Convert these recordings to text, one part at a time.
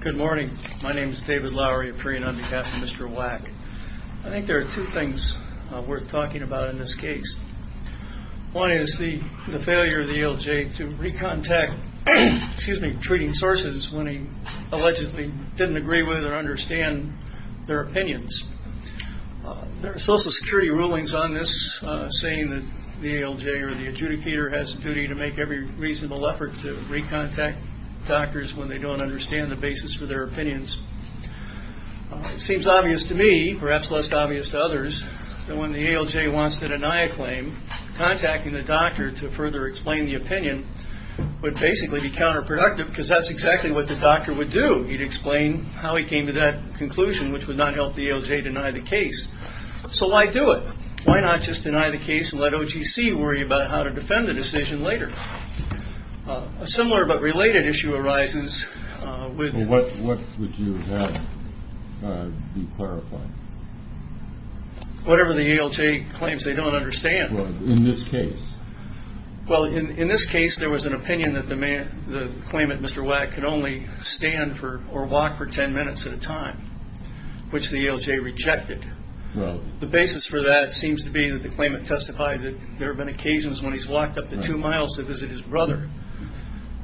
Good morning. My name is David Lowery, a pre and under captain of Mr. Wack. I think there are two things worth talking about in this case. One is the failure of the ALJ to recontact, excuse me, treating sources when he allegedly didn't agree with or understand their opinions. There are Social Security rulings on this saying that the ALJ or the adjudicator has a duty to make every reasonable effort to recontact doctors when they don't understand the basis for their opinions. It seems obvious to me, perhaps less obvious to others, that when the ALJ wants to deny a claim, contacting the doctor to further explain the opinion would basically be counterproductive because that's exactly what the doctor would do. He'd explain how he came to that conclusion, which would not help the ALJ deny the case. So why do it? Why not just deny the case and let OGC worry about how to defend the decision later? A similar but related issue arises with- What would you have be clarified? Whatever the ALJ claims they don't understand. In this case? Well, in this case, there was an opinion that the claimant, Mr. Wack, could only stand or walk for ten minutes at a time, which the ALJ rejected. The basis for that seems to be that the claimant testified that there have been occasions when he's walked up to two miles to visit his brother,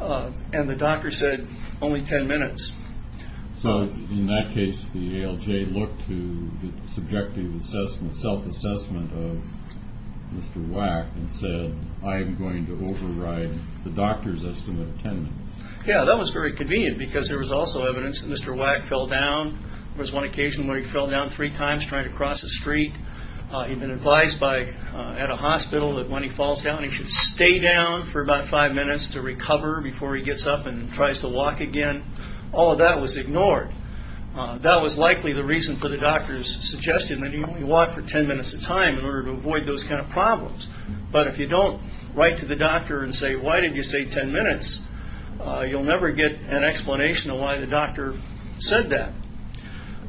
and the doctor said only ten minutes. So in that case, the ALJ looked to the subjective assessment, self-assessment of Mr. Wack and said, I'm going to override the doctor's estimate of ten minutes. Yeah, that was very convenient because there was also evidence that Mr. Wack fell down. There was one occasion where he fell down three times trying to cross a street. He'd been advised at a hospital that when he falls down, he should stay down for about five minutes to recover before he gets up and tries to walk again. All of that was ignored. That was likely the reason for the doctor's suggestion that he only walked for ten minutes at a time in order to avoid those kind of problems. But if you don't write to the doctor and say, why did you say ten minutes, you'll never get an explanation of why the doctor said that.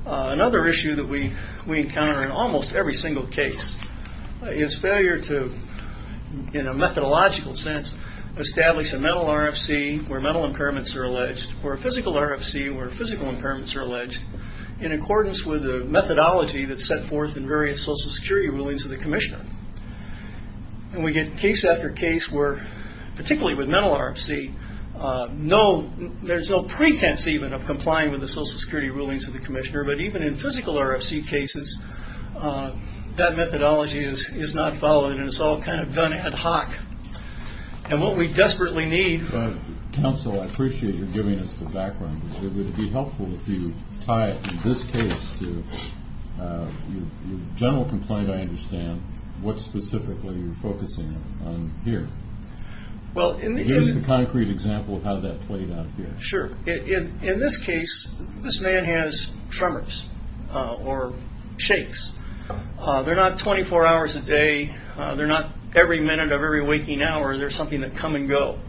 Another issue that we encounter in almost every single case is failure to, in a methodological sense, establish a mental RFC where mental impairments are alleged, or a physical RFC where physical impairments are alleged, in accordance with the methodology that's set forth in various social security rulings of the commissioner. And we get case after case where, particularly with mental RFC, there's no pretense even of complying with the social security rulings of the commissioner. But even in physical RFC cases, that methodology is not followed, and it's all kind of done ad hoc. And what we desperately need... Counsel, I appreciate your giving us the background. It would be helpful if you tie it, in this case, to your general complaint, I understand. What specifically are you focusing on here? Give us a concrete example of how that played out here. Sure. In this case, this man has tremors or shakes. They're not 24 hours a day. They're not every minute of every waking hour. They're something that come and go.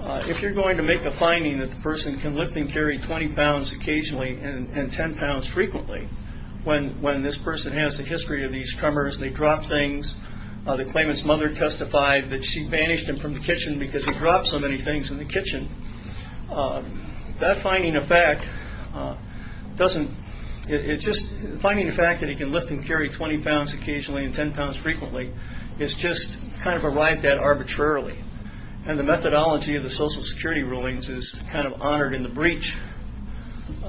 If you're going to make a finding that the person can lift and carry 20 pounds occasionally and 10 pounds frequently, when this person has the history of these tremors, they drop things, the claimant's mother testified that she banished him from the kitchen because he dropped so many things in the kitchen, that finding of fact doesn't... Finding the fact that he can lift and carry 20 pounds occasionally and 10 pounds frequently is just kind of arrived at arbitrarily. And the methodology of the Social Security rulings is kind of honored in the breach.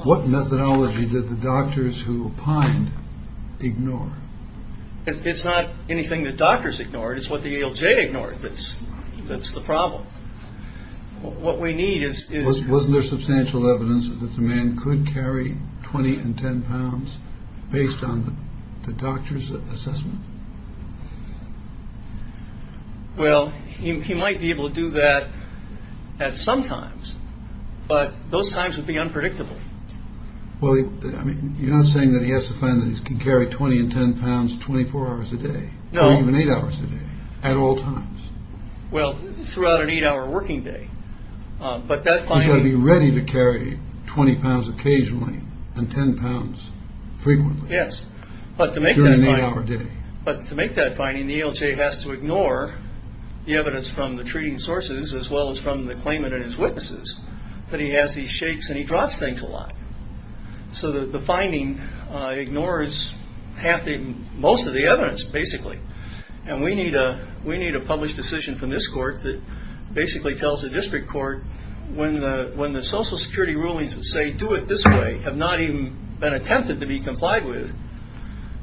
What methodology did the doctors who opined ignore? It's not anything that doctors ignored. It's what the ALJ ignored that's the problem. What we need is... Wasn't there substantial evidence that the man could carry 20 and 10 pounds based on the doctor's assessment? Well, he might be able to do that at some times, but those times would be unpredictable. Well, you're not saying that he has to find that he can carry 20 and 10 pounds 24 hours a day. No. Or even 8 hours a day at all times. Well, throughout an 8-hour working day. He's got to be ready to carry 20 pounds occasionally and 10 pounds frequently. Yes, but to make that finding... But to make that finding, the ALJ has to ignore the evidence from the treating sources as well as from the claimant and his witnesses, that he has these shakes and he drops things a lot. So the finding ignores most of the evidence, basically. And we need a published decision from this court that basically tells the district court when the Social Security rulings that say do it this way have not even been attempted to be complied with,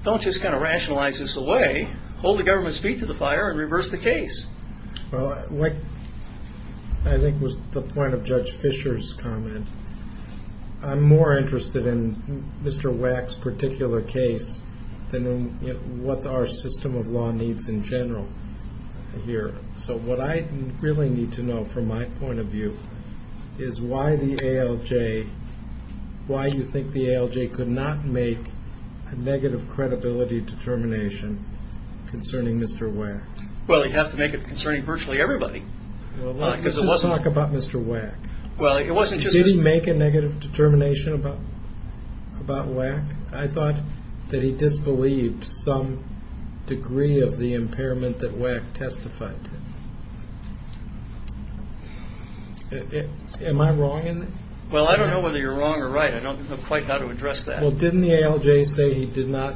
don't just kind of rationalize this away. Hold the government's feet to the fire and reverse the case. Well, what I think was the point of Judge Fisher's comment, I'm more interested in Mr. Wack's particular case than in what our system of law needs in general here. So what I really need to know from my point of view is why the ALJ, why you think the ALJ could not make a negative credibility determination concerning Mr. Wack. Well, you'd have to make it concerning virtually everybody. Well, let's just talk about Mr. Wack. Well, it wasn't just... Did he make a negative determination about Wack? I thought that he disbelieved some degree of the impairment that Wack testified to. Am I wrong? Well, I don't know whether you're wrong or right. I don't know quite how to address that. Well, didn't the ALJ say he did not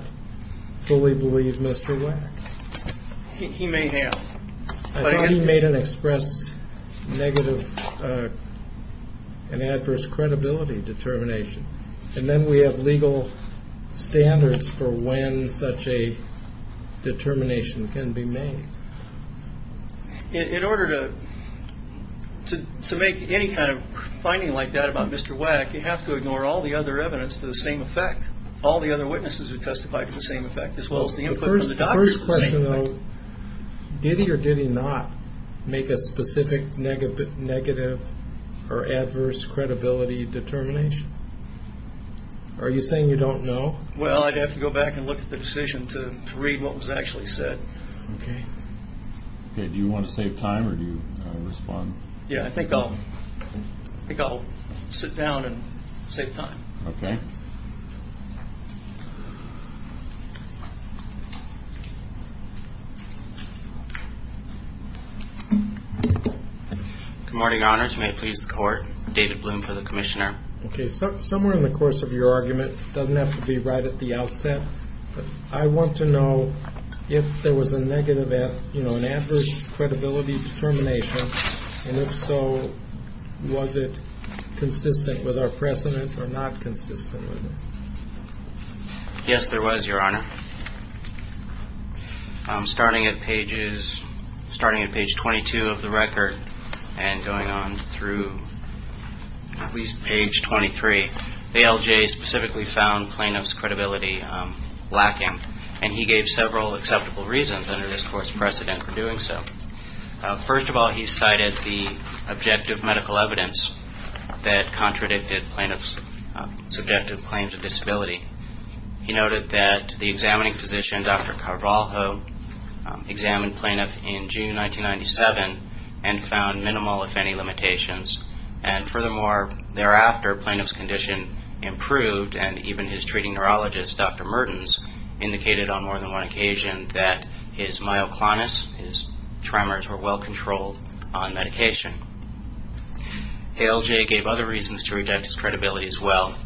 fully believe Mr. Wack? He may have. I thought he made an express negative and adverse credibility determination. And then we have legal standards for when such a determination can be made. In order to make any kind of finding like that about Mr. Wack, you have to ignore all the other evidence to the same effect, all the other witnesses who testified to the same effect, as well as the input from the doctors to the same effect. The first question, though, did he or did he not make a specific negative or adverse credibility determination? Are you saying you don't know? Well, I'd have to go back and look at the decision to read what was actually said. Okay. Do you want to save time or do you want to respond? Yeah, I think I'll sit down and save time. Okay. Good morning, Your Honors. May it please the Court. David Bloom for the Commissioner. Okay. Somewhere in the course of your argument, it doesn't have to be right at the outset, but I want to know if there was a negative, you know, an adverse credibility determination, and if so, was it consistent with our precedent or not consistent with it? Yes, there was, Your Honor. Starting at pages 22 of the record and going on through at least page 23, the LJA specifically found plaintiff's credibility lacking, and he gave several acceptable reasons under this Court's precedent for doing so. First of all, he cited the objective medical evidence that contradicted plaintiff's subjective claims of disability. He noted that the examining physician, Dr. Carvalho, examined plaintiff in June 1997 and found minimal, if any, limitations. And furthermore, thereafter, plaintiff's condition improved, and even his treating neurologist, Dr. Mertens, indicated on more than one occasion that his myoclonus, his tremors, were well controlled on medication. The LJA gave other reasons to reject his credibility as well.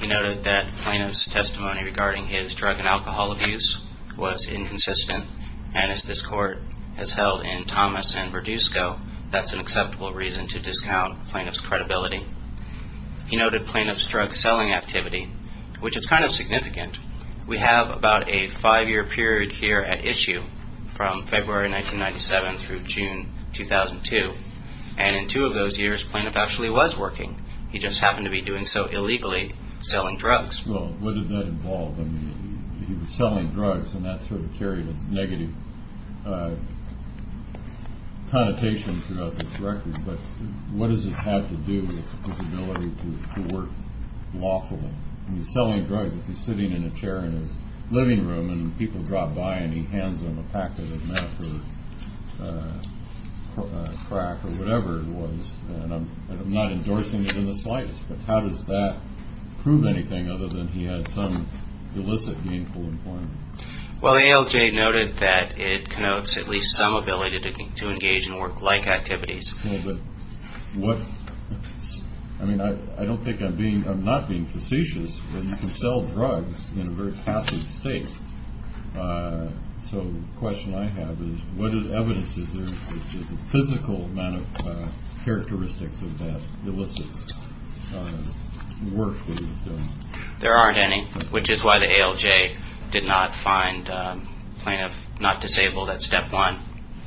He noted that plaintiff's testimony regarding his drug and alcohol abuse was inconsistent, and as this Court has held in Thomas and Verdusco, that's an acceptable reason to discount plaintiff's credibility. He noted plaintiff's drug selling activity, which is kind of significant. We have about a five-year period here at issue from February 1997 through June 2002, and in two of those years, plaintiff actually was working. He just happened to be doing so illegally selling drugs. Well, what did that involve? I mean, he was selling drugs, and that sort of carried a negative connotation throughout this record, but what does it have to do with his ability to work lawfully? I mean, he's selling drugs. If he's sitting in a chair in his living room and people drop by and he hands them a packet of meth or crack or whatever it was, and I'm not endorsing it in the slightest, but how does that prove anything other than he had some illicit gainful employment? Well, the ALJ noted that it connotes at least some ability to engage in work-like activities. Well, but what – I mean, I don't think I'm being – I'm not being facetious, but you can sell drugs in a very passive state, so the question I have is what is evidence? Is there a physical amount of characteristics of that illicit work that he's done? There aren't any, which is why the ALJ did not find plaintiff not disabled at step one.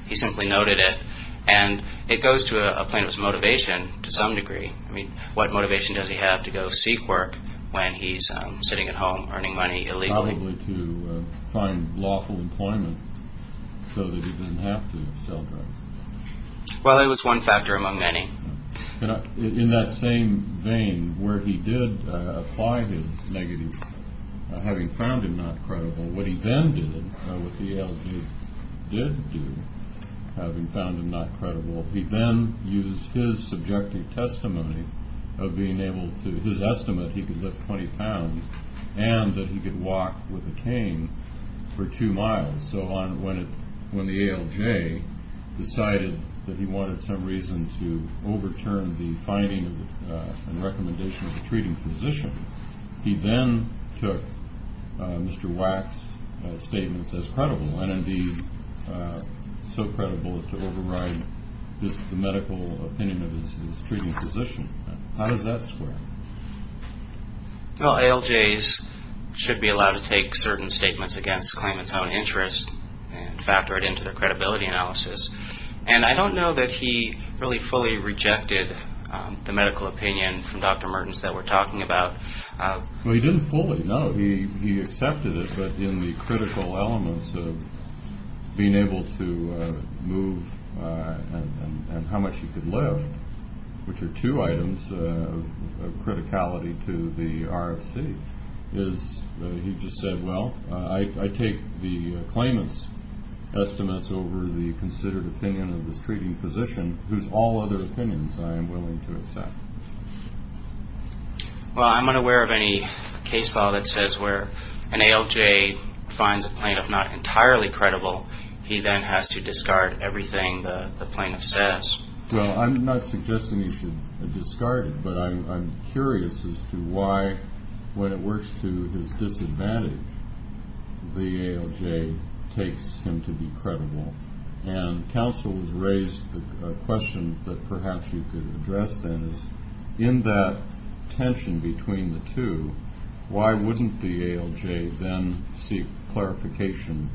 He simply noted it, and it goes to a plaintiff's motivation to some degree. I mean, what motivation does he have to go seek work when he's sitting at home earning money illegally? Probably to find lawful employment so that he doesn't have to sell drugs. Well, it was one factor among many. In that same vein, where he did apply his negative, having found him not credible, what he then did, what the ALJ did do, having found him not credible, he then used his subjective testimony of being able to – with a cane for two miles. So when the ALJ decided that he wanted some reason to overturn the finding and recommendation of the treating physician, he then took Mr. Wack's statements as credible, and indeed so credible as to override the medical opinion of his treating physician. How does that square? Well, ALJs should be allowed to take certain statements against a claimant's own interest and factor it into their credibility analysis. And I don't know that he really fully rejected the medical opinion from Dr. Mertens that we're talking about. Well, he didn't fully, no. He accepted it, but in the critical elements of being able to move and how much he could live, which are two items of criticality to the RFC, is he just said, well, I take the claimant's estimates over the considered opinion of this treating physician, whose all other opinions I am willing to accept. Well, I'm unaware of any case law that says where an ALJ finds a plaintiff not entirely credible. He then has to discard everything the plaintiff says. Well, I'm not suggesting he should discard it, but I'm curious as to why, when it works to his disadvantage, the ALJ takes him to be credible. And counsel has raised a question that perhaps you could address then is, in that tension between the two, why wouldn't the ALJ then seek clarification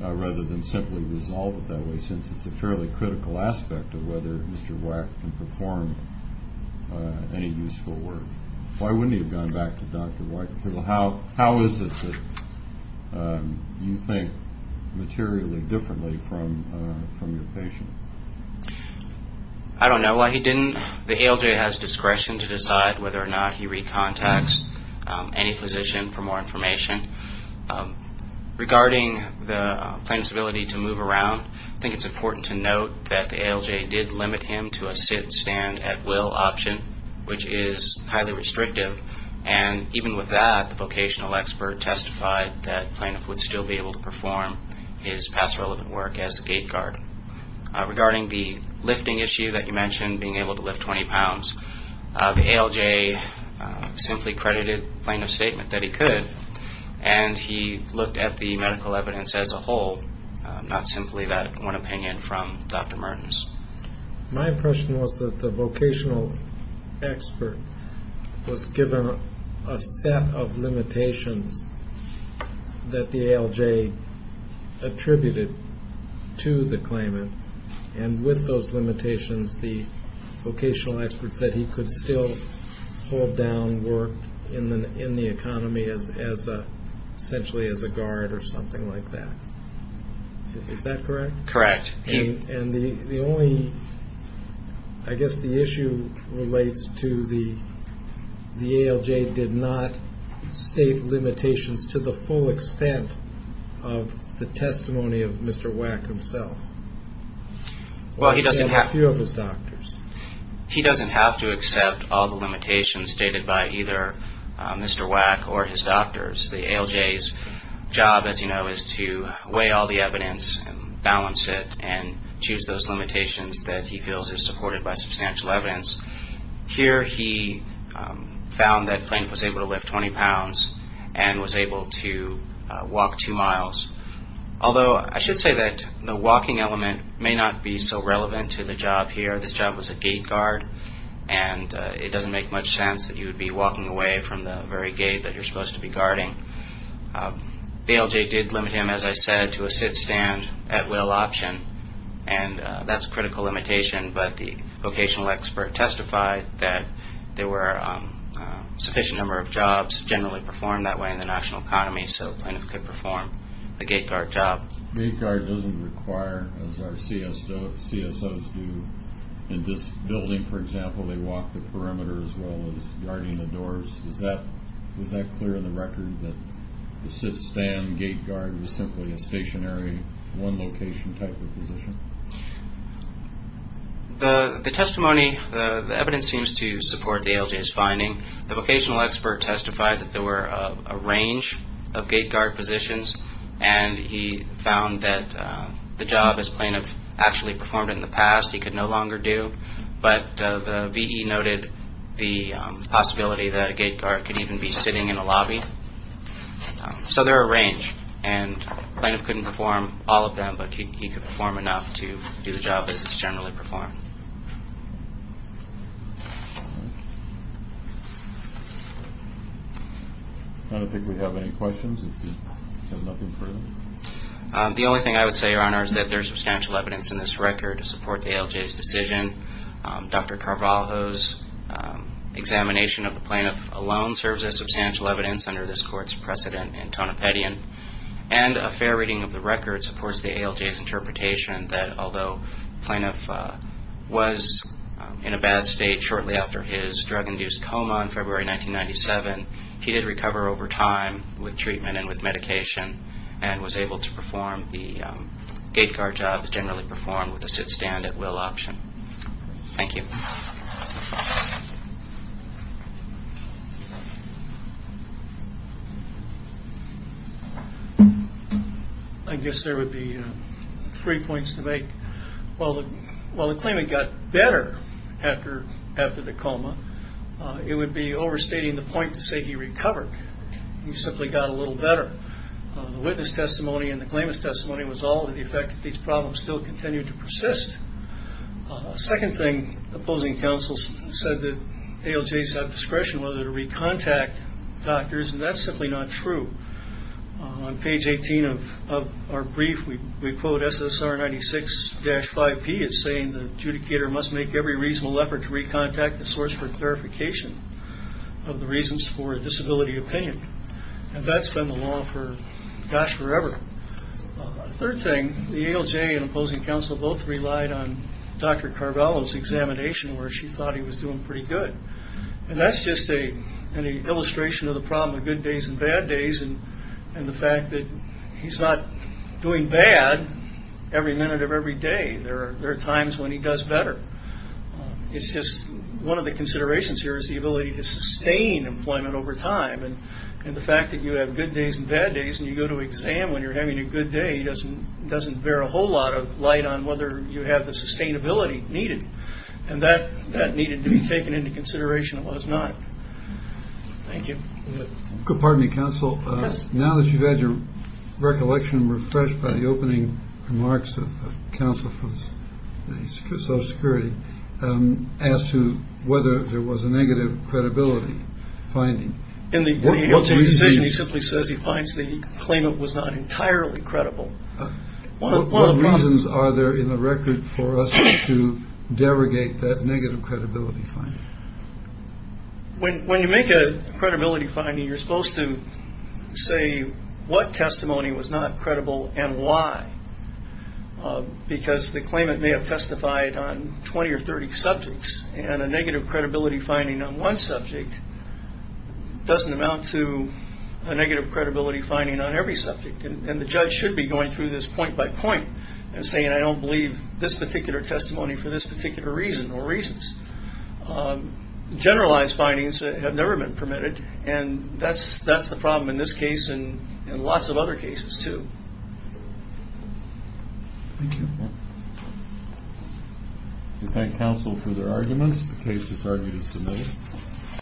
rather than simply resolve it that way, since it's a fairly critical aspect of whether Mr. White can perform any useful work? Why wouldn't he have gone back to Dr. White and said, well, how is it that you think materially differently from your patient? I don't know why he didn't. The ALJ has discretion to decide whether or not he recontacts any physician for more information. Regarding the plaintiff's ability to move around, I think it's important to note that the ALJ did limit him to a sit and stand at will option, which is highly restrictive. And even with that, the vocational expert testified that the plaintiff would still be able to perform his past relevant work as a gate guard. Regarding the lifting issue that you mentioned, being able to lift 20 pounds, the ALJ simply credited the plaintiff's statement that he could, and he looked at the medical evidence as a whole, not simply that one opinion from Dr. Mertens. My impression was that the vocational expert was given a set of limitations that the ALJ attributed to the claimant, and with those limitations, the vocational expert said he could still hold down work in the economy essentially as a guard or something like that. Is that correct? Correct. And the only, I guess the issue relates to the ALJ did not state limitations to the full extent of the testimony of Mr. Wack himself. Well, he doesn't have to. Or a few of his doctors. He doesn't have to accept all the limitations stated by either Mr. Wack or his doctors. The ALJ's job, as you know, is to weigh all the evidence and balance it and choose those limitations that he feels are supported by substantial evidence. Here he found that the plaintiff was able to lift 20 pounds and was able to walk two miles. Although I should say that the walking element may not be so relevant to the job here. This job was a gate guard, and it doesn't make much sense that you would be walking away from the very gate that you're supposed to be guarding. The ALJ did limit him, as I said, to a sit-stand at-will option, and that's a critical limitation, but the vocational expert testified that there were a sufficient number of jobs generally performed that way in the national economy, so the plaintiff could perform a gate guard job. Gate guard doesn't require, as our CSOs do, in this building, for example, they walk the perimeter as well as guarding the doors. Is that clear in the record that the sit-stand gate guard was simply a stationary, one-location type of position? The testimony, the evidence seems to support the ALJ's finding. The vocational expert testified that there were a range of gate guard positions, and he found that the job, as plaintiff actually performed it in the past, he could no longer do, but the VE noted the possibility that a gate guard could even be sitting in a lobby. So there are a range, and the plaintiff couldn't perform all of them, but he could perform enough to do the job as it's generally performed. All right. I don't think we have any questions, if you have nothing further. The only thing I would say, Your Honor, is that there is substantial evidence in this record to support the ALJ's decision. Dr. Carvalho's examination of the plaintiff alone serves as substantial evidence under this Court's precedent in Tonopetian, and a fair reading of the record supports the ALJ's interpretation that, although the plaintiff was in a bad state shortly after his drug-induced coma in February 1997, he did recover over time with treatment and with medication, and was able to perform the gate guard job as generally performed with a sit-stand at will option. Thank you. I guess there would be three points to make. While the claimant got better after the coma, it would be overstating the point to say he recovered. He simply got a little better. The witness testimony and the claimant's testimony was all to the effect that these problems still continued to persist. Second thing, opposing counsels said that ALJs have discretion whether to recontact doctors, and that's simply not true. On page 18 of our brief, we quote SSR 96-5P as saying, the adjudicator must make every reasonable effort to recontact the source for clarification of the reasons for a disability opinion. And that's been the law for, gosh, forever. Third thing, the ALJ and opposing counsel both relied on Dr. Carvalho's examination where she thought he was doing pretty good. And that's just an illustration of the problem of good days and bad days and the fact that he's not doing bad every minute of every day. There are times when he does better. It's just one of the considerations here is the ability to sustain employment over time, and the fact that you have good days and bad days and you go to exam when you're having a good day doesn't bear a whole lot of light on whether you have the sustainability needed. And that needed to be taken into consideration. It was not. Thank you. Pardon me, counsel. Now that you've had your recollection refreshed by the opening remarks of counsel from Social Security, as to whether there was a negative credibility finding. In the decision, he simply says he finds the claimant was not entirely credible. What reasons are there in the record for us to derogate that negative credibility finding? When you make a credibility finding, you're supposed to say what testimony was not credible and why. Because the claimant may have testified on 20 or 30 subjects, and a negative credibility finding on one subject doesn't amount to a negative credibility finding on every subject. And the judge should be going through this point by point and saying, I don't believe this particular testimony for this particular reason or reasons. Generalized findings have never been permitted. And that's the problem in this case and lots of other cases, too. Thank you. We thank counsel for their arguments. The case is argued as submitted.